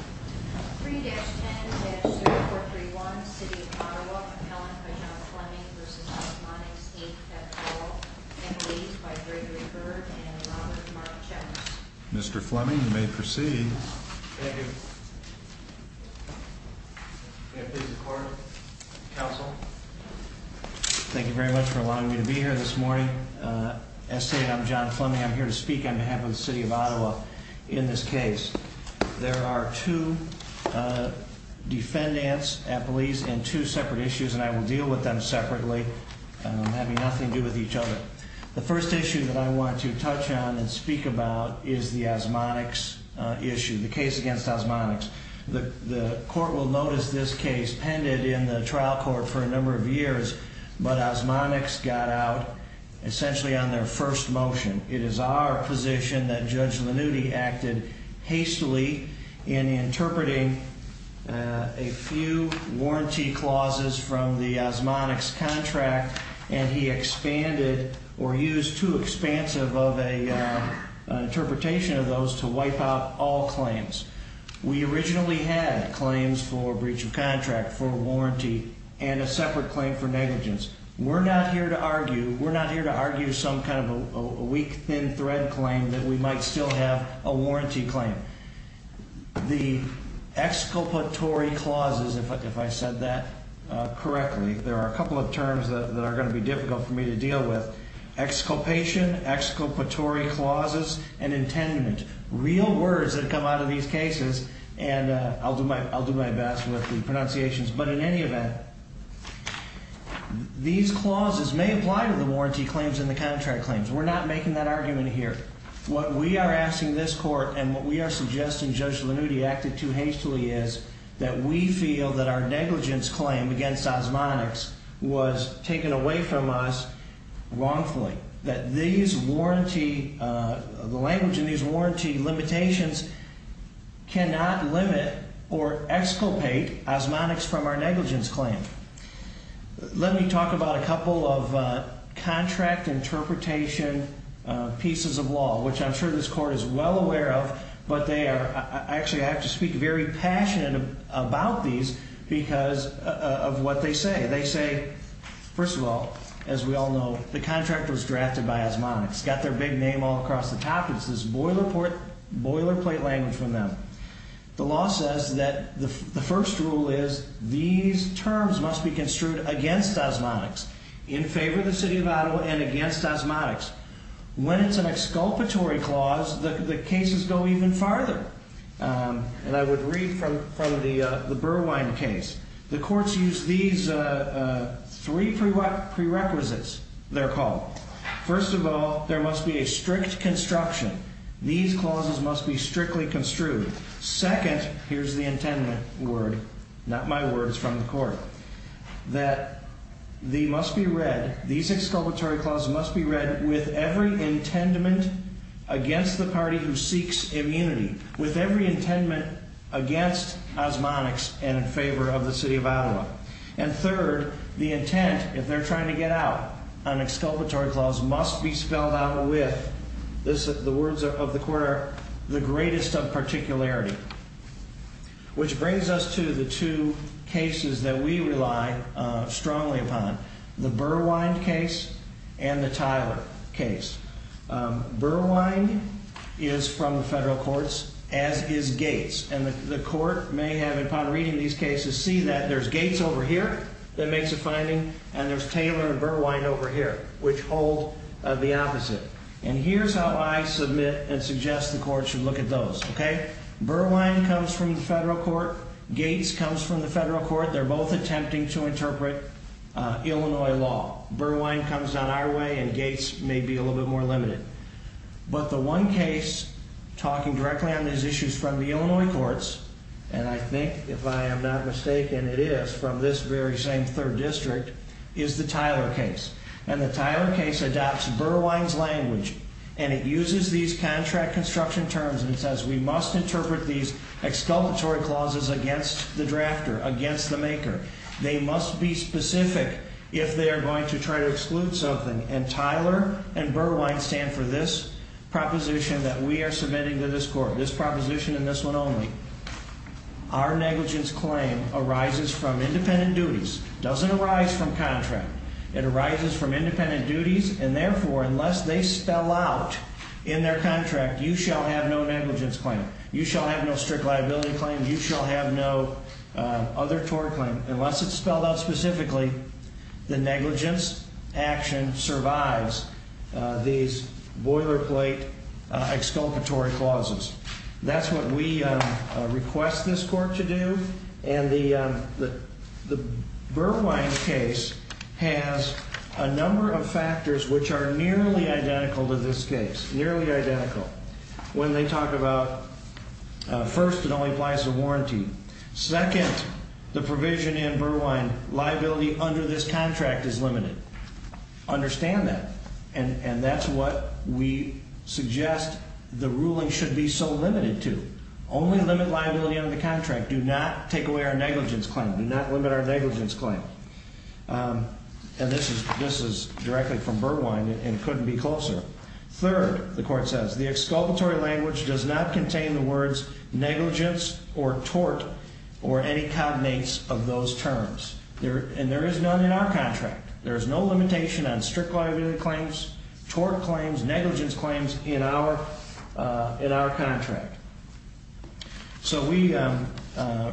3-10-0431, City of Ottawa, compellent by John Fleming v. Osmonies, Inc., kept oral and released by Gregory Bird and Robert Mark Chapman. Mr. Fleming, you may proceed. Thank you. May I please have the floor? Counsel. Thank you very much for allowing me to be here this morning. As stated, I'm John Fleming. I'm here to speak on behalf of the City of Ottawa in this case. There are two defendants at police and two separate issues, and I will deal with them separately, having nothing to do with each other. The first issue that I want to touch on and speak about is the Osmonics issue, the case against Osmonics. The court will notice this case pended in the trial court for a number of years, but Osmonics got out essentially on their first motion. It is our position that Judge Lanuti acted hastily in interpreting a few warranty clauses from the Osmonics contract, and he expanded or used too expansive of an interpretation of those to wipe out all claims. We originally had claims for breach of contract for warranty and a separate claim for negligence. We're not here to argue some kind of a weak, thin thread claim that we might still have a warranty claim. The exculpatory clauses, if I said that correctly, there are a couple of terms that are going to be difficult for me to deal with. Exculpation, exculpatory clauses, and intendment. Real words that come out of these cases, and I'll do my best with the pronunciations. But in any event, these clauses may apply to the warranty claims and the contract claims. We're not making that argument here. What we are asking this court and what we are suggesting Judge Lanuti acted too hastily is that we feel that our negligence claim against Osmonics was taken away from us wrongfully. We feel that these warranty, the language in these warranty limitations cannot limit or exculpate Osmonics from our negligence claim. Let me talk about a couple of contract interpretation pieces of law, which I'm sure this court is well aware of, but they are, actually I have to speak very passionate about these because of what they say. They say, first of all, as we all know, the contract was drafted by Osmonics. It's got their big name all across the top. It's this boilerplate language from them. The law says that the first rule is these terms must be construed against Osmonics, in favor of the city of Ottawa and against Osmonics. When it's an exculpatory clause, the cases go even farther. And I would read from the Burwine case. The courts use these three prerequisites, they're called. First of all, there must be a strict construction. These clauses must be strictly construed. Second, here's the intended word, not my words from the court, that they must be read, these exculpatory clauses must be read with every intendment against the party who seeks immunity, with every intendment against Osmonics and in favor of the city of Ottawa. And third, the intent, if they're trying to get out, an exculpatory clause must be spelled out with, the words of the court are, the greatest of particularity. Which brings us to the two cases that we rely strongly upon, the Burwine case and the Tyler case. Burwine is from the federal courts, as is Gates. And the court may have, upon reading these cases, see that there's Gates over here that makes a finding, and there's Taylor and Burwine over here, which hold the opposite. And here's how I submit and suggest the court should look at those, okay? Burwine comes from the federal court, Gates comes from the federal court, they're both attempting to interpret Illinois law. Burwine comes on our way, and Gates may be a little bit more limited. But the one case, talking directly on these issues from the Illinois courts, and I think, if I am not mistaken, it is from this very same third district, is the Tyler case. And the Tyler case adopts Burwine's language, and it uses these contract construction terms, and it says we must interpret these exculpatory clauses against the drafter, against the maker. They must be specific if they are going to try to exclude something. And Tyler and Burwine stand for this proposition that we are submitting to this court, this proposition and this one only. Our negligence claim arises from independent duties. It doesn't arise from contract. It arises from independent duties, and therefore, unless they spell out in their contract, you shall have no negligence claim, you shall have no strict liability claim, you shall have no other tort claim. Unless it's spelled out specifically, the negligence action survives these boilerplate exculpatory clauses. That's what we request this court to do. And the Burwine case has a number of factors which are nearly identical to this case, nearly identical. When they talk about, first, it only applies to warranty. Second, the provision in Burwine, liability under this contract is limited. Understand that. And that's what we suggest the ruling should be so limited to. Only limit liability under the contract. Do not take away our negligence claim. Do not limit our negligence claim. And this is directly from Burwine and couldn't be closer. Third, the court says, the exculpatory language does not contain the words negligence or tort or any cognates of those terms. And there is none in our contract. There is no limitation on strict liability claims, tort claims, negligence claims in our contract. So we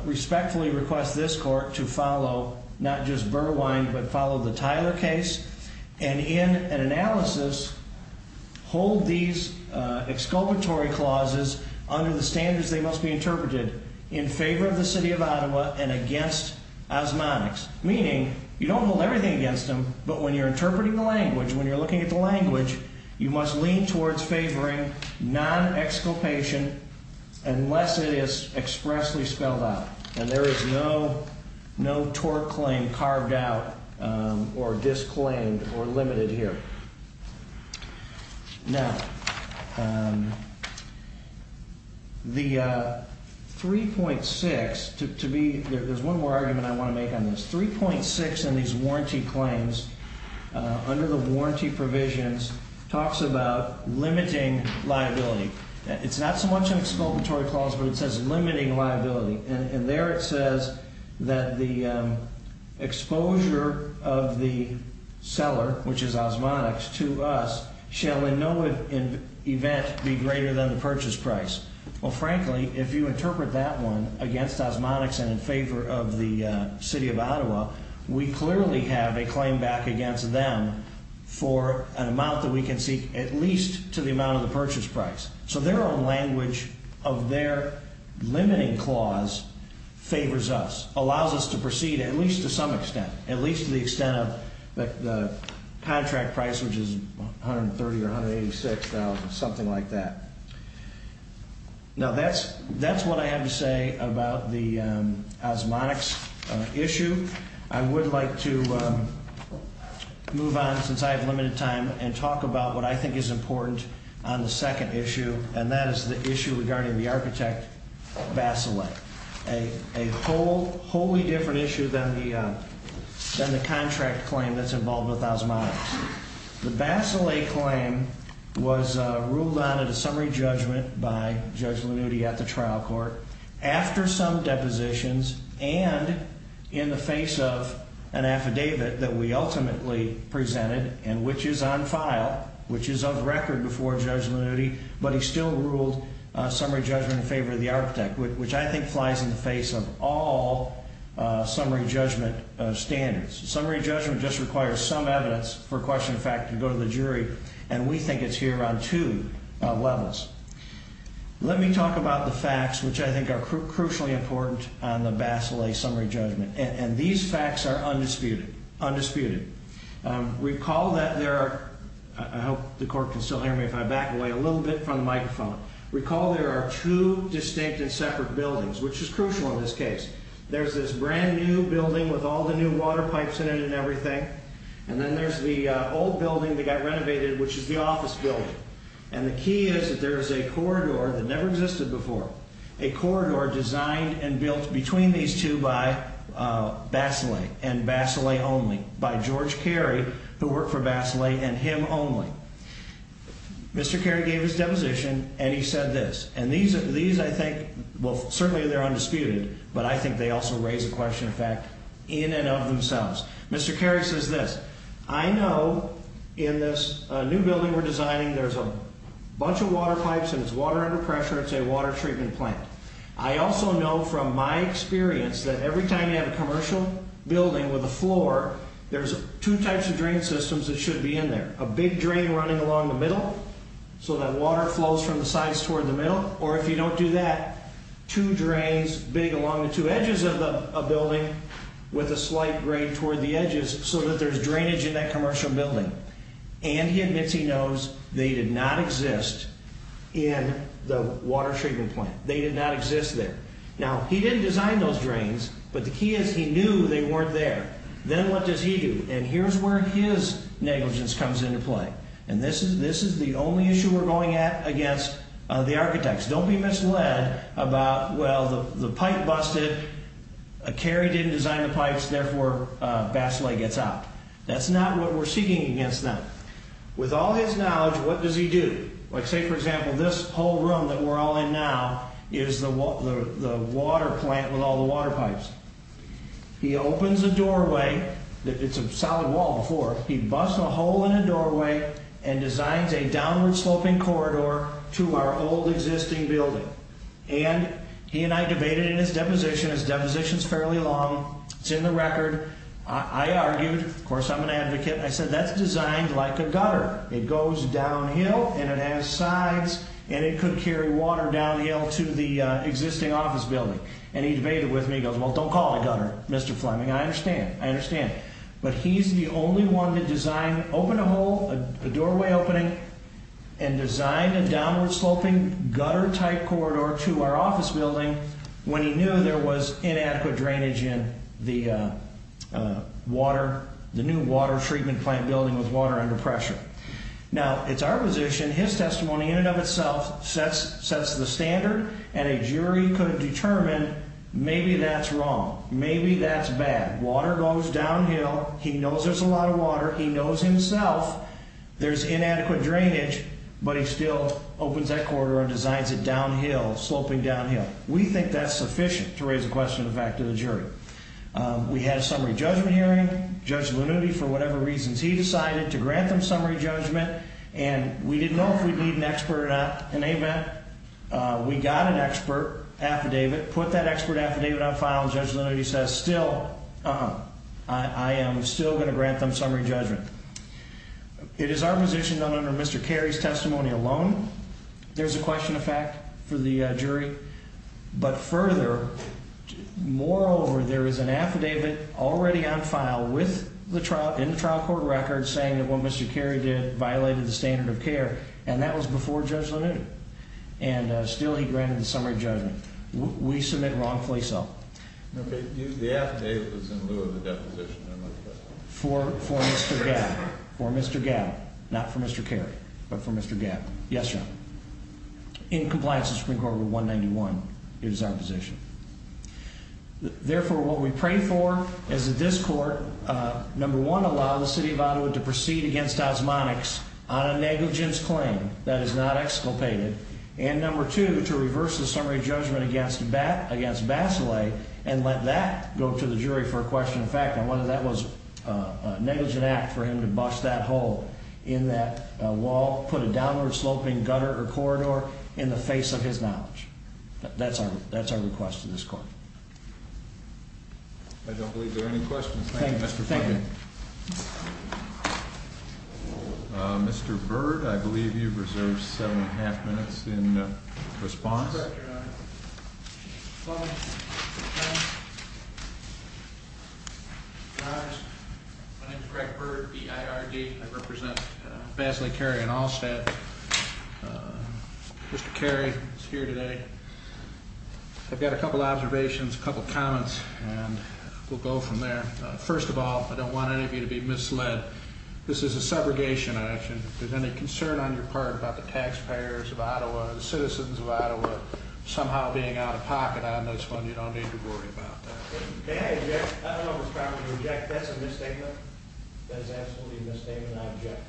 respectfully request this court to follow, not just Burwine, but follow the Tyler case. And in an analysis, hold these exculpatory clauses under the standards they must be interpreted in favor of the city of Ottawa and against osmotics. Meaning, you don't hold everything against them, but when you're interpreting the language, when you're looking at the language, you must lean towards favoring non-exculpation unless it is expressly spelled out. And there is no tort claim carved out or disclaimed or limited here. Now, the 3.6, to be, there's one more argument I want to make on this. 3.6 in these warranty claims, under the warranty provisions, talks about limiting liability. It's not so much an exculpatory clause, but it says limiting liability. And there it says that the exposure of the seller, which is osmotics, to us shall in no event be greater than the purchase price. Well, frankly, if you interpret that one against osmotics and in favor of the city of Ottawa, we clearly have a claim back against them for an amount that we can seek at least to the amount of the purchase price. So their own language of their limiting clause favors us, allows us to proceed at least to some extent, at least to the extent of the contract price, which is $130,000 or $186,000, something like that. Now, that's what I have to say about the osmotics issue. I would like to move on, since I have limited time, and talk about what I think is important on the second issue, and that is the issue regarding the architect, Vaselay, a wholly different issue than the contract claim that's involved with osmotics. The Vaselay claim was ruled on at a summary judgment by Judge Lanuti at the trial court. After some depositions and in the face of an affidavit that we ultimately presented, and which is on file, which is of record before Judge Lanuti, but he still ruled summary judgment in favor of the architect, which I think flies in the face of all summary judgment standards. Summary judgment just requires some evidence for question of fact to go to the jury, and we think it's here on two levels. Let me talk about the facts, which I think are crucially important on the Vaselay summary judgment, and these facts are undisputed. Recall that there are, I hope the court can still hear me if I back away a little bit from the microphone, recall there are two distinct and separate buildings, which is crucial in this case. There's this brand new building with all the new water pipes in it and everything, and then there's the old building that got renovated, which is the office building, and the key is that there is a corridor that never existed before, a corridor designed and built between these two by Vaselay and Vaselay only, by George Carey, who worked for Vaselay, and him only. Mr. Carey gave his deposition, and he said this, and these, I think, well, certainly they're undisputed, but I think they also raise a question of fact in and of themselves. Mr. Carey says this, I know in this new building we're designing there's a bunch of water pipes and it's water under pressure, it's a water treatment plant. I also know from my experience that every time you have a commercial building with a floor, there's two types of drain systems that should be in there, a big drain running along the middle so that water flows from the sides toward the middle, or if you don't do that, two drains big along the two edges of the building with a slight grade toward the edges so that there's drainage in that commercial building. And he admits he knows they did not exist in the water treatment plant. They did not exist there. Now, he didn't design those drains, but the key is he knew they weren't there. Then what does he do? And here's where his negligence comes into play. And this is the only issue we're going at against the architects. Don't be misled about, well, the pipe busted, Carey didn't design the pipes, therefore Baselay gets out. That's not what we're seeking against them. With all his knowledge, what does he do? Say, for example, this whole room that we're all in now is the water plant with all the water pipes. He opens a doorway. It's a solid wall before. He busts a hole in the doorway and designs a downward-sloping corridor to our old existing building. And he and I debated in his deposition. His deposition is fairly long. It's in the record. I argued. Of course, I'm an advocate. I said, that's designed like a gutter. It goes downhill, and it has sides, and it could carry water downhill to the existing office building. And he debated with me. He goes, well, don't call it a gutter, Mr. Fleming. I understand. I understand. But he's the only one to design, open a hole, a doorway opening, and design a downward-sloping gutter-type corridor to our office building when he knew there was inadequate drainage in the new water treatment plant building with water under pressure. Now, it's our position, his testimony in and of itself sets the standard, and a jury could determine maybe that's wrong. Maybe that's bad. Water goes downhill. He knows there's a lot of water. He knows himself there's inadequate drainage, but he still opens that corridor and designs it downhill, sloping downhill. We think that's sufficient to raise a question of the fact to the jury. We had a summary judgment hearing. Judge Lanuti, for whatever reasons, he decided to grant them summary judgment, and we didn't know if we'd need an expert or not. And they met. We got an expert affidavit, put that expert affidavit on file, and Judge Lanuti says, still, I am still going to grant them summary judgment. It is our position, under Mr. Carey's testimony alone, there's a question of fact for the jury. But further, moreover, there is an affidavit already on file in the trial court record saying that what Mr. Carey did violated the standard of care, and that was before Judge Lanuti, and still he granted the summary judgment. We submit wrongfully so. The affidavit was in lieu of the deposition. For Mr. Gabb. For Mr. Gabb. Not for Mr. Carey, but for Mr. Gabb. Yes, Your Honor. In compliance with Supreme Court Rule 191, it is our position. Therefore, what we pray for is that this court, number one, allow the city of Ottawa to proceed against osmotics on a negligence claim that is not exculpated, and number two, to reverse the summary judgment against Basile and let that go to the jury for a question of fact, and whether that was a negligent act for him to bust that hole in that wall, put a downward-sloping gutter or corridor in the face of his knowledge. That's our request to this court. I don't believe there are any questions. Thank you, Mr. Fleming. Thank you. Mr. Byrd, I believe you've reserved seven and a half minutes in response. Correct, Your Honor. Fleming. Fleming. My name is Greg Byrd, B-I-R-D. I represent Basile Carey and Allstat. Mr. Carey is here today. I've got a couple of observations, a couple of comments, and we'll go from there. First of all, I don't want any of you to be misled. This is a segregation action. If there's any concern on your part about the taxpayers of Ottawa or the citizens of Ottawa somehow being out of pocket on this one, you don't need to worry about that. I don't know if it's proper to object. That's a misstatement. That is absolutely a misstatement. I object.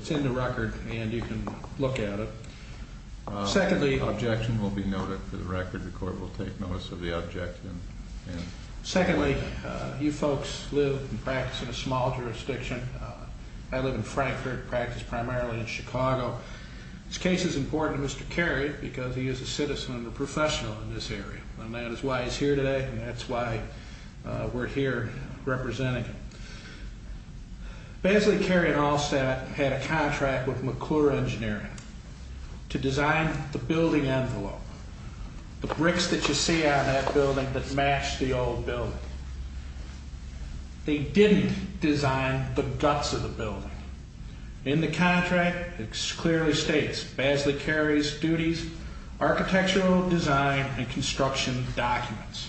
It's in the record, and you can look at it. Secondly, objection will be noted for the record. The court will take notice of the objection. Secondly, you folks live and practice in a small jurisdiction. I live in Frankfort, practice primarily in Chicago. This case is important to Mr. Carey because he is a citizen and a professional in this area, and that is why he's here today, and that's why we're here representing him. Basile Carey and Allstat had a contract with McClure Engineering to design the building envelope. The bricks that you see on that building that match the old building. They didn't design the guts of the building. In the contract, it clearly states, Basile Carey's duties, architectural design and construction documents,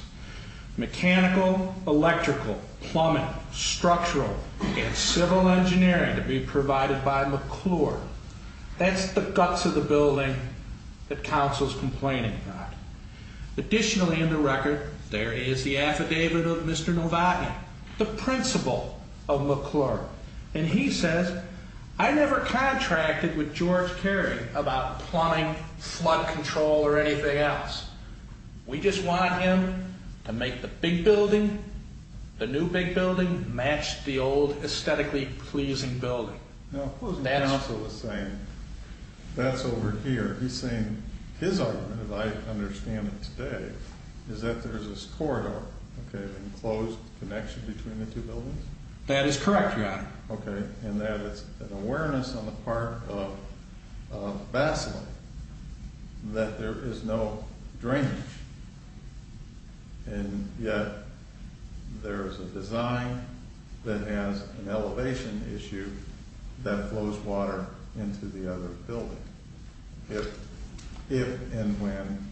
mechanical, electrical, plumbing, structural, and civil engineering to be provided by McClure. That's the guts of the building that counsel's complaining about. Additionally in the record, there is the affidavit of Mr. Novotny, the principal of McClure, and he says, I never contracted with George Carey about plumbing, flood control, or anything else. We just want him to make the big building, the new big building, match the old aesthetically pleasing building. That's over here. He's saying his argument, as I understand it today, is that there's this corridor, an enclosed connection between the two buildings? That is correct, Your Honor. Okay, and that is an awareness on the part of Basile that there is no drainage, and yet there is a design that has an elevation issue that flows water into the other building, if and when?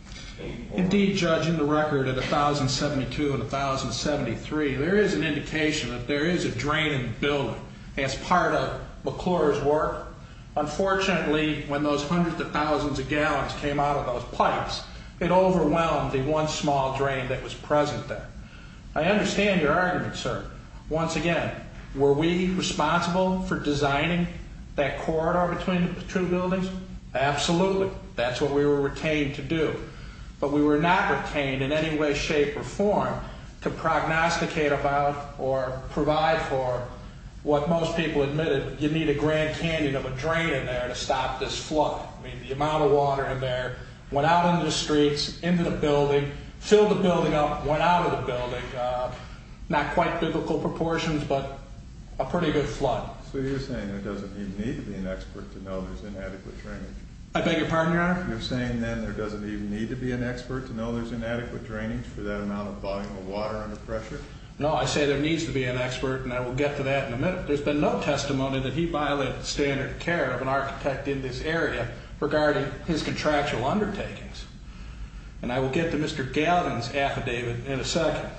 Indeed, Judge, in the record of 1072 and 1073, there is an indication that there is a drain in the building as part of McClure's work. Unfortunately, when those hundreds of thousands of gallons came out of those pipes, it overwhelmed the one small drain that was present there. I understand your argument, sir. Once again, were we responsible for designing that corridor between the two buildings? Absolutely. That's what we were retained to do. But we were not retained in any way, shape, or form to prognosticate about or provide for what most people admitted, you need a Grand Canyon of a drain in there to stop this flood. I mean, the amount of water in there went out into the streets, into the building, filled the building up, went out of the building. Not quite biblical proportions, but a pretty good flood. So you're saying there doesn't even need to be an expert to know there's inadequate drainage? I beg your pardon, Your Honor? You're saying then there doesn't even need to be an expert to know there's inadequate drainage for that amount of volume of water under pressure? No, I say there needs to be an expert, and I will get to that in a minute. There's been no testimony that he violated standard of care of an architect in this area regarding his contractual undertakings, and I will get to Mr. Gavin's affidavit in a second.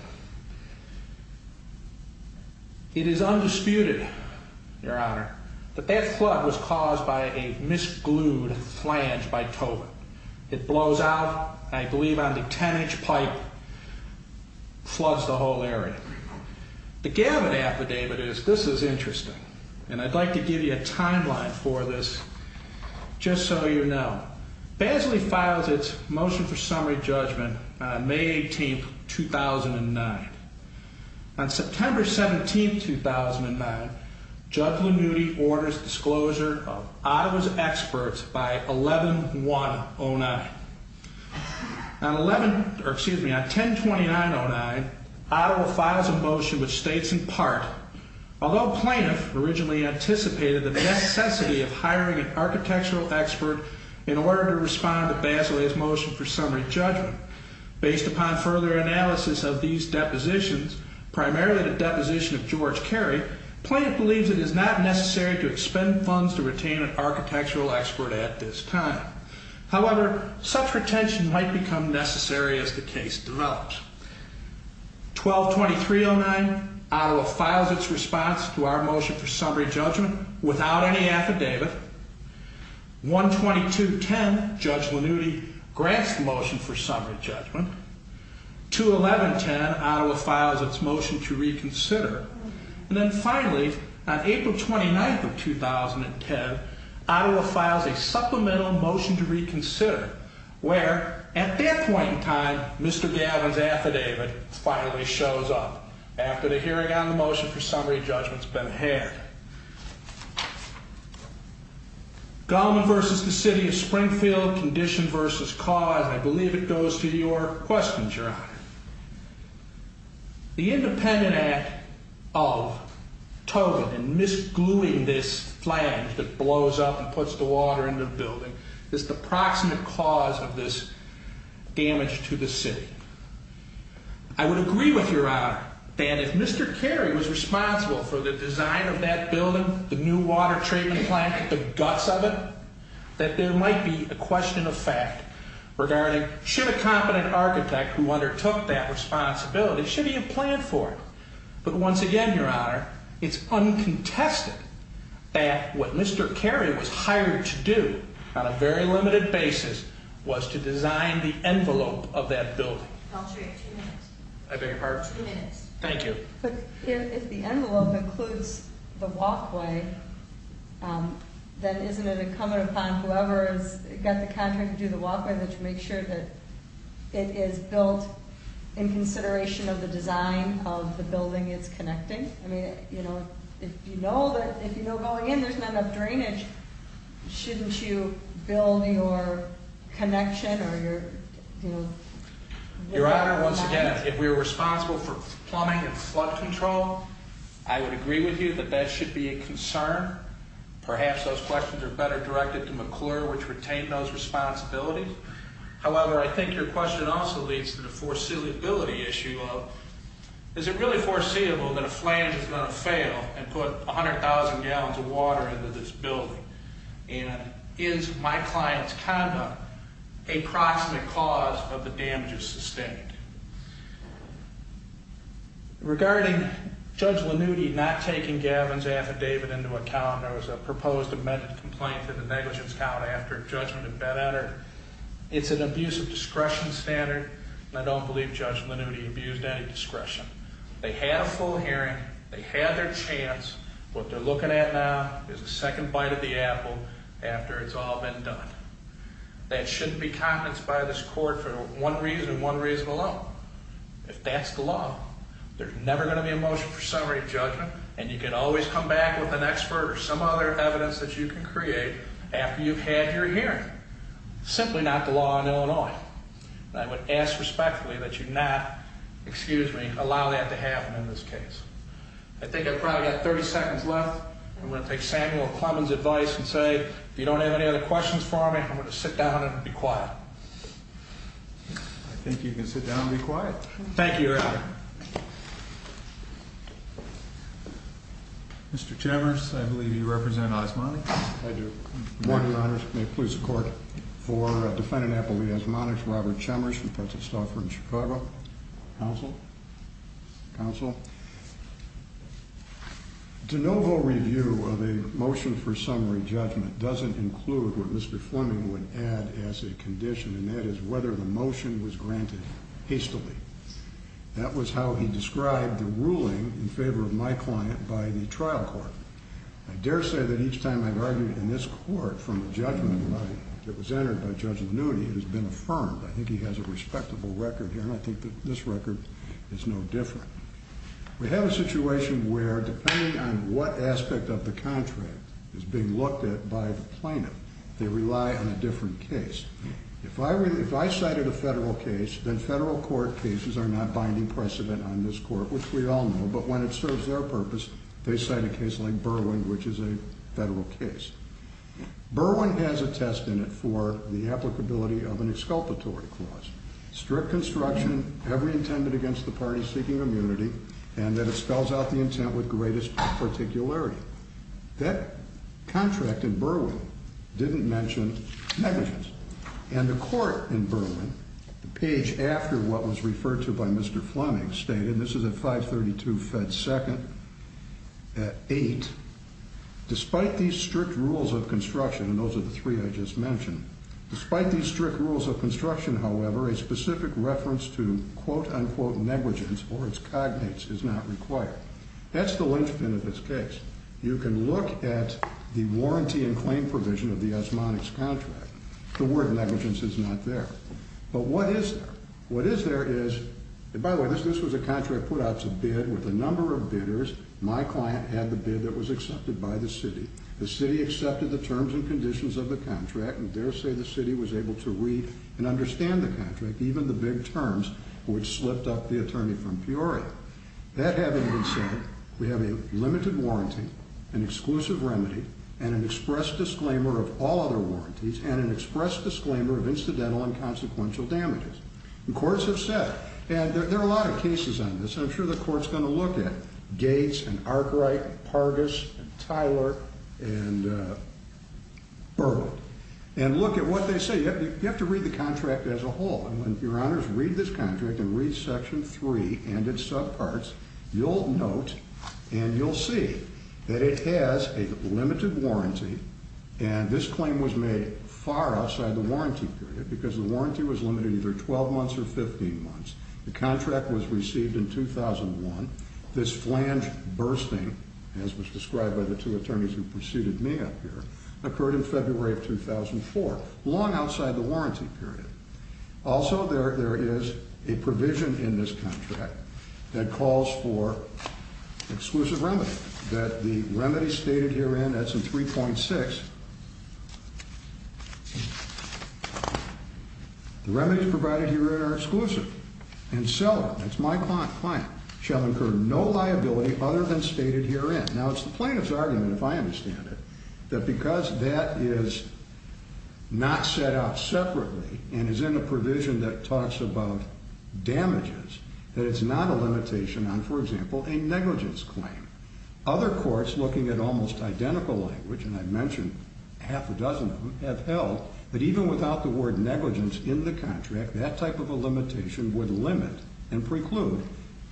It is undisputed, Your Honor, that that flood was caused by a misglued flange by Tobin. It blows out, and I believe on the 10-inch pipe floods the whole area. The Gavin affidavit is, this is interesting, and I'd like to give you a timeline for this just so you know. Basley files its motion for summary judgment on May 18, 2009. On September 17, 2009, Judge Lanuti orders disclosure of Iowa's experts by 11-1-09. On 10-29-09, Iowa files a motion which states in part, although plaintiff originally anticipated the necessity of hiring an architectural expert in order to respond to Basley's motion for summary judgment, based upon further analysis of these depositions, primarily the deposition of George Carey, plaintiff believes it is not necessary to expend funds to retain an architectural expert at this time. However, such retention might become necessary as the case develops. 12-23-09, Iowa files its response to our motion for summary judgment without any affidavit. 1-22-10, Judge Lanuti grants the motion for summary judgment. 2-11-10, Iowa files its motion to reconsider. And then finally, on April 29, 2010, Iowa files a supplemental motion to reconsider, where, at that point in time, Mr. Gavin's affidavit finally shows up, after the hearing on the motion for summary judgment has been had. Gallman v. The City of Springfield, Condition v. Cause, and I believe it goes to your questions, Your Honor. The independent act of Togan in misgluing this flange that blows up and puts the water in the building is the proximate cause of this damage to the city. I would agree with Your Honor that if Mr. Carey was responsible for the design of that building, the new water treatment plant, the guts of it, that there might be a question of fact regarding should a competent architect who undertook that responsibility, should he have planned for it. But once again, Your Honor, it's uncontested that what Mr. Carey was hired to do on a very limited basis was to design the envelope of that building. Counsel, you have two minutes. I beg your pardon? Two minutes. Thank you. But if the envelope includes the walkway, then isn't it incumbent upon whoever has got the contract to do the walkway and to make sure that it is built in consideration of the design of the building it's connecting? I mean, you know, if you know going in there's not enough drainage, shouldn't you build your connection or your... Your Honor, once again, if we were responsible for plumbing and flood control, I would agree with you that that should be a concern. Perhaps those questions are better directed to McClure, which retained those responsibilities. However, I think your question also leads to the foreseeability issue of is it really foreseeable that a flange is going to fail and put 100,000 gallons of water into this building? And is my client's conduct a proximate cause of the damages sustained? Regarding Judge Lanuti not taking Gavin's affidavit into account, there was a proposed amended complaint in the negligence count after judgment had been entered. It's an abuse of discretion standard, and I don't believe Judge Lanuti abused any discretion. They had a full hearing. They had their chance. What they're looking at now is a second bite of the apple after it's all been done. That shouldn't be confidence by this court for one reason and one reason alone. If that's the law, there's never going to be a motion for summary judgment, and you can always come back with an expert or some other evidence that you can create after you've had your hearing. Simply not the law in Illinois. And I would ask respectfully that you not, excuse me, allow that to happen in this case. I think I've probably got 30 seconds left. I'm going to take Samuel Clemons' advice and say, if you don't have any other questions for me, I'm going to sit down and be quiet. I think you can sit down and be quiet. Thank you, Your Honor. Mr. Chemers, I believe you represent Osmonix. I do. Good morning, Your Honor. May it please the Court. For Defendant Appleby Osmonix, Robert Chemers from Prince of Stoufford, Chicago. Counsel. Counsel. De novo review of a motion for summary judgment doesn't include what Mr. Fleming would add as a condition, and that is whether the motion was granted hastily. That was how he described the ruling in favor of my client by the trial court. I dare say that each time I've argued in this court from a judgment that was entered by Judge Lanuti, it has been affirmed. I think he has a respectable record here, and I think that this record is no different. We have a situation where, depending on what aspect of the contract is being looked at by the plaintiff, they rely on a different case. If I cited a federal case, then federal court cases are not binding precedent on this court, which we all know, but when it serves their purpose, they cite a case like Berwyn, which is a federal case. Berwyn has a test in it for the applicability of an exculpatory clause. Strict construction, every intent against the party seeking immunity, and that it spells out the intent with greatest particularity. That contract in Berwyn didn't mention negligence, and the court in Berwyn, the page after what was referred to by Mr. Fleming, stated, and this is at 532 Fed Second, at 8, despite these strict rules of construction, and those are the three I just mentioned, despite these strict rules of construction, however, a specific reference to quote unquote negligence or its cognates is not required. That's the linchpin of this case. You can look at the warranty and claim provision of the osmotics contract. The word negligence is not there. But what is there? What is there is, and by the way, this was a contract put out to bid with a number of bidders. My client had the bid that was accepted by the city. The city accepted the terms and conditions of the contract, and dare say the city was able to read and understand the contract, even the big terms which slipped up the attorney from Peoria. That having been said, we have a limited warranty, an exclusive remedy, and an express disclaimer of all other warranties, and an express disclaimer of incidental and consequential damages. The courts have said, and there are a lot of cases on this, I'm sure the court's going to look at Gates and Arkwright and Pargus and Tyler and Burwood, and look at what they say. You have to read the contract as a whole. And when your honors read this contract and read Section 3 and its subparts, you'll note and you'll see that it has a limited warranty, and this claim was made far outside the warranty period because the warranty was limited to either 12 months or 15 months. The contract was received in 2001. This flange bursting, as was described by the two attorneys who preceded me up here, occurred in February of 2004, long outside the warranty period. Also, there is a provision in this contract that calls for exclusive remedy, that the remedy stated herein, that's in 3.6, the remedies provided herein are exclusive, and seller, that's my client, shall incur no liability other than stated herein. Now, it's the plaintiff's argument, if I understand it, that because that is not set out separately and is in a provision that talks about damages, that it's not a limitation on, for example, a negligence claim. Other courts, looking at almost identical language, and I mentioned half a dozen of them, have held that even without the word negligence in the contract, that type of a limitation would limit and preclude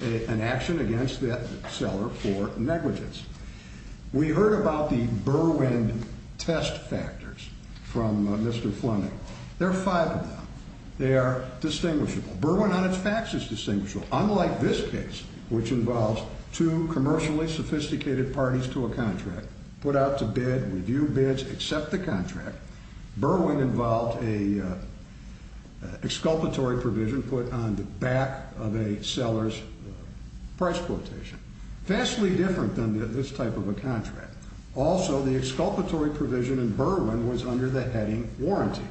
an action against that seller for negligence. We heard about the Berwyn test factors from Mr. Fleming. There are five of them. They are distinguishable. Berwyn on its facts is distinguishable, but unlike this case, which involves two commercially sophisticated parties to a contract, put out to bid, review bids, accept the contract, Berwyn involved an exculpatory provision put on the back of a seller's price quotation. Vastly different than this type of a contract. Also, the exculpatory provision in Berwyn was under the heading warranty.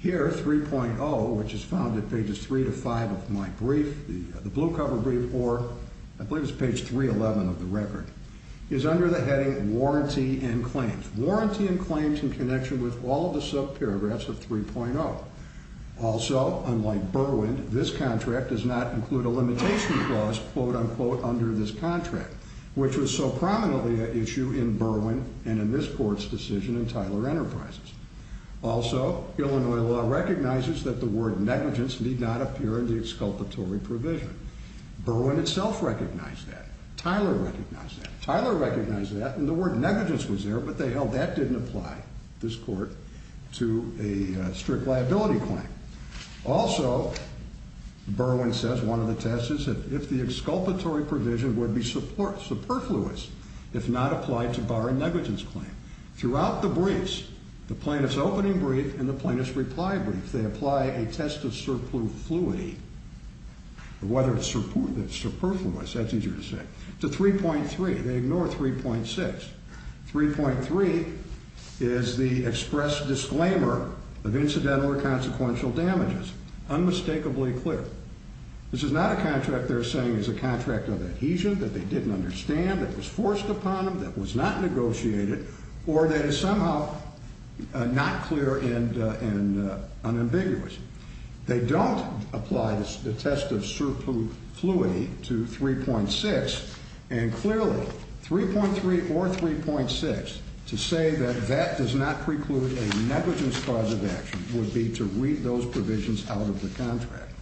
Here, 3.0, which is found at pages 3 to 5 of my brief, the blue cover brief, or I believe it's page 311 of the record, is under the heading warranty and claims. Warranty and claims in connection with all of the subparagraphs of 3.0. Also, unlike Berwyn, this contract does not include a limitation clause, quote, unquote, under this contract, which was so prominently an issue in Berwyn and in this court's decision in Tyler Enterprises. Also, Illinois law recognizes that the word negligence need not appear in the exculpatory provision. Berwyn itself recognized that. Tyler recognized that. Tyler recognized that, and the word negligence was there, but they held that didn't apply, this court, to a strict liability claim. Also, Berwyn says one of the tests is if the exculpatory provision would be superfluous if not applied to bar a negligence claim. Throughout the briefs, the plaintiff's opening brief and the plaintiff's reply brief, they apply a test of superfluity, or whether it's superfluous, that's easier to say, to 3.3. They ignore 3.6. 3.3 is the express disclaimer of incidental or consequential damages, unmistakably clear. This is not a contract they're saying is a contract of adhesion that they didn't understand, that was forced upon them, that was not negotiated, or that is somehow not clear and unambiguous. They don't apply the test of superfluity to 3.6, and clearly, 3.3 or 3.6, to say that that does not preclude a negligence cause of action would be to read those provisions out of the contract.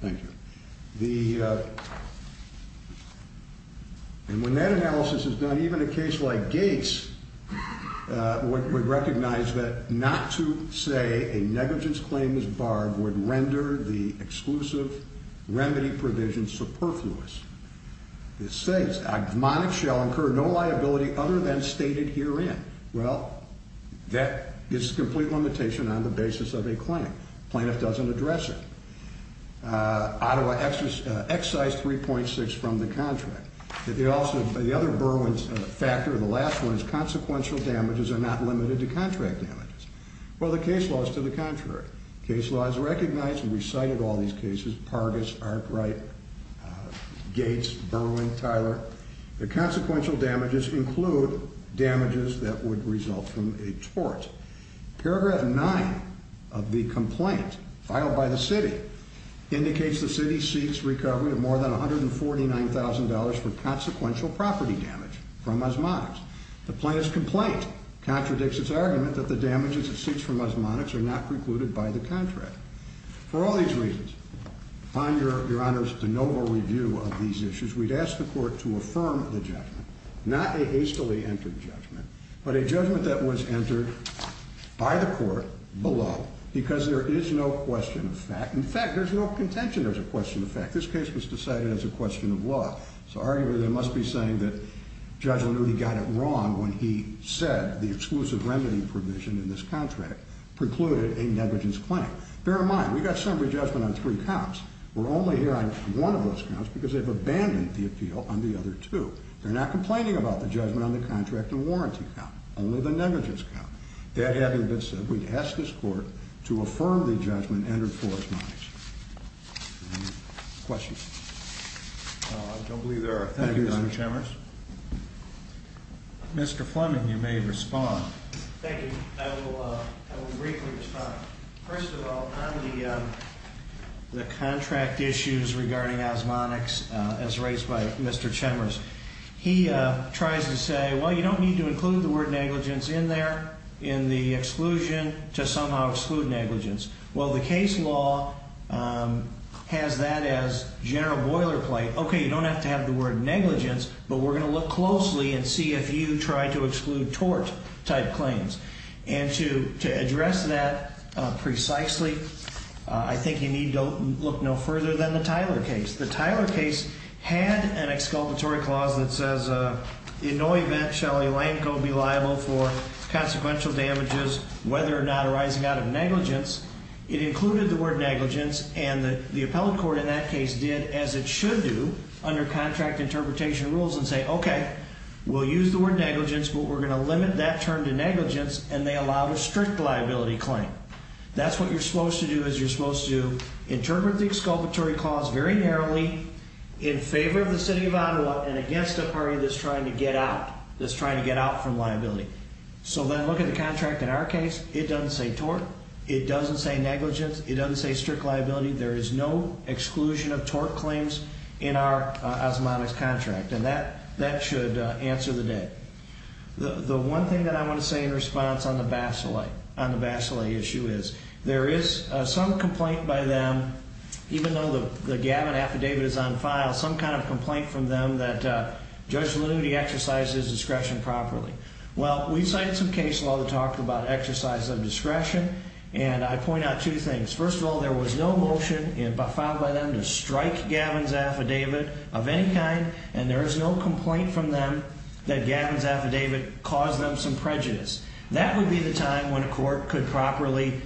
Thank you. And when that analysis is done, even a case like Gates would recognize that not to say a negligence claim is barred would render the exclusive remedy provision superfluous. It says, admonish shall incur no liability other than stated herein. Well, that is a complete limitation on the basis of a claim. The plaintiff doesn't address it. Ottawa excised 3.6 from the contract. The other Burwins factor, the last one, is consequential damages are not limited to contract damages. Well, the case law is to the contrary. The case law has recognized and recited all these cases, Pargus, Arkwright, Gates, Burwin, Tyler. The consequential damages include damages that would result from a tort. Paragraph 9 of the complaint filed by the city indicates the city seeks recovery of more than $149,000 for consequential property damage from osmotics. The plaintiff's complaint contradicts its argument that the damages it seeks from osmotics are not precluded by the contract. For all these reasons, find your honors the noble review of these issues. We'd ask the court to affirm the judgment, not a hastily entered judgment, but a judgment that was entered by the court below because there is no question of fact. In fact, there's no contention there's a question of fact. This case was decided as a question of law. So arguably, they must be saying that Judge Lanuti got it wrong when he said the exclusive remedy provision in this contract precluded a negligence claim. Bear in mind, we got summary judgment on three counts. We're only here on one of those counts because they've abandoned the appeal on the other two. They're not complaining about the judgment on the contract and warranty count. Only the negligence count. That having been said, we'd ask this court to affirm the judgment and enforce notice. Any questions? I don't believe there are. Thank you, Mr. Chambers. Mr. Fleming, you may respond. Thank you. I will briefly respond. First of all, on the contract issues regarding osmonics as raised by Mr. Chambers, he tries to say, well, you don't need to include the word negligence in there in the exclusion to somehow exclude negligence. Well, the case law has that as general boilerplate. Okay, you don't have to have the word negligence, but we're going to look closely and see if you try to exclude tort-type claims. And to address that precisely, I think you need to look no further than the Tyler case. The Tyler case had an exculpatory clause that says, in no event shall a lanco be liable for consequential damages whether or not arising out of negligence. It included the word negligence, and the appellate court in that case did as it should do under contract interpretation rules and say, okay, we'll use the word negligence, but we're going to limit that term to negligence, and they allowed a strict liability claim. That's what you're supposed to do is you're supposed to interpret the exculpatory clause very narrowly in favor of the city of Ottawa and against a party that's trying to get out, that's trying to get out from liability. So then look at the contract in our case. It doesn't say tort. It doesn't say negligence. It doesn't say strict liability. There is no exclusion of tort claims in our osmotic contract, and that should answer the day. The one thing that I want to say in response on the Basile issue is there is some complaint by them, even though the Gavin affidavit is on file, some kind of complaint from them that Judge Lanuti exercised his discretion properly. Well, we cited some case law to talk about exercise of discretion, and I point out two things. First of all, there was no motion filed by them to strike Gavin's affidavit of any kind, and there is no complaint from them that Gavin's affidavit caused them some prejudice. That would be the time when a court could properly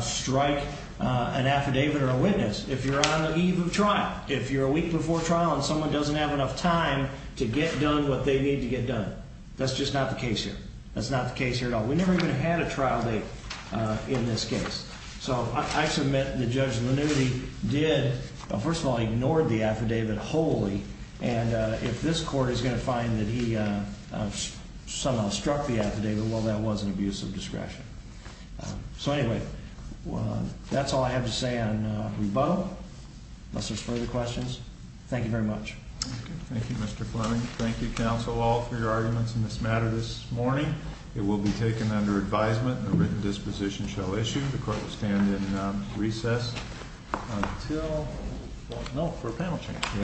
strike an affidavit or a witness if you're on the eve of trial, if you're a week before trial and someone doesn't have enough time to get done what they need to get done. That's just not the case here. That's not the case here at all. We never even had a trial date in this case. So I submit that Judge Lanuti did, first of all, ignore the affidavit wholly, and if this court is going to find that he somehow struck the affidavit, well, that was an abuse of discretion. So anyway, that's all I have to say on rebuttal, unless there's further questions. Thank you very much. Thank you, Mr. Fleming. Thank you, counsel, all, for your arguments in this matter this morning. It will be taken under advisement, and a written disposition shall issue. The court will stand in recess until no, for a panel change.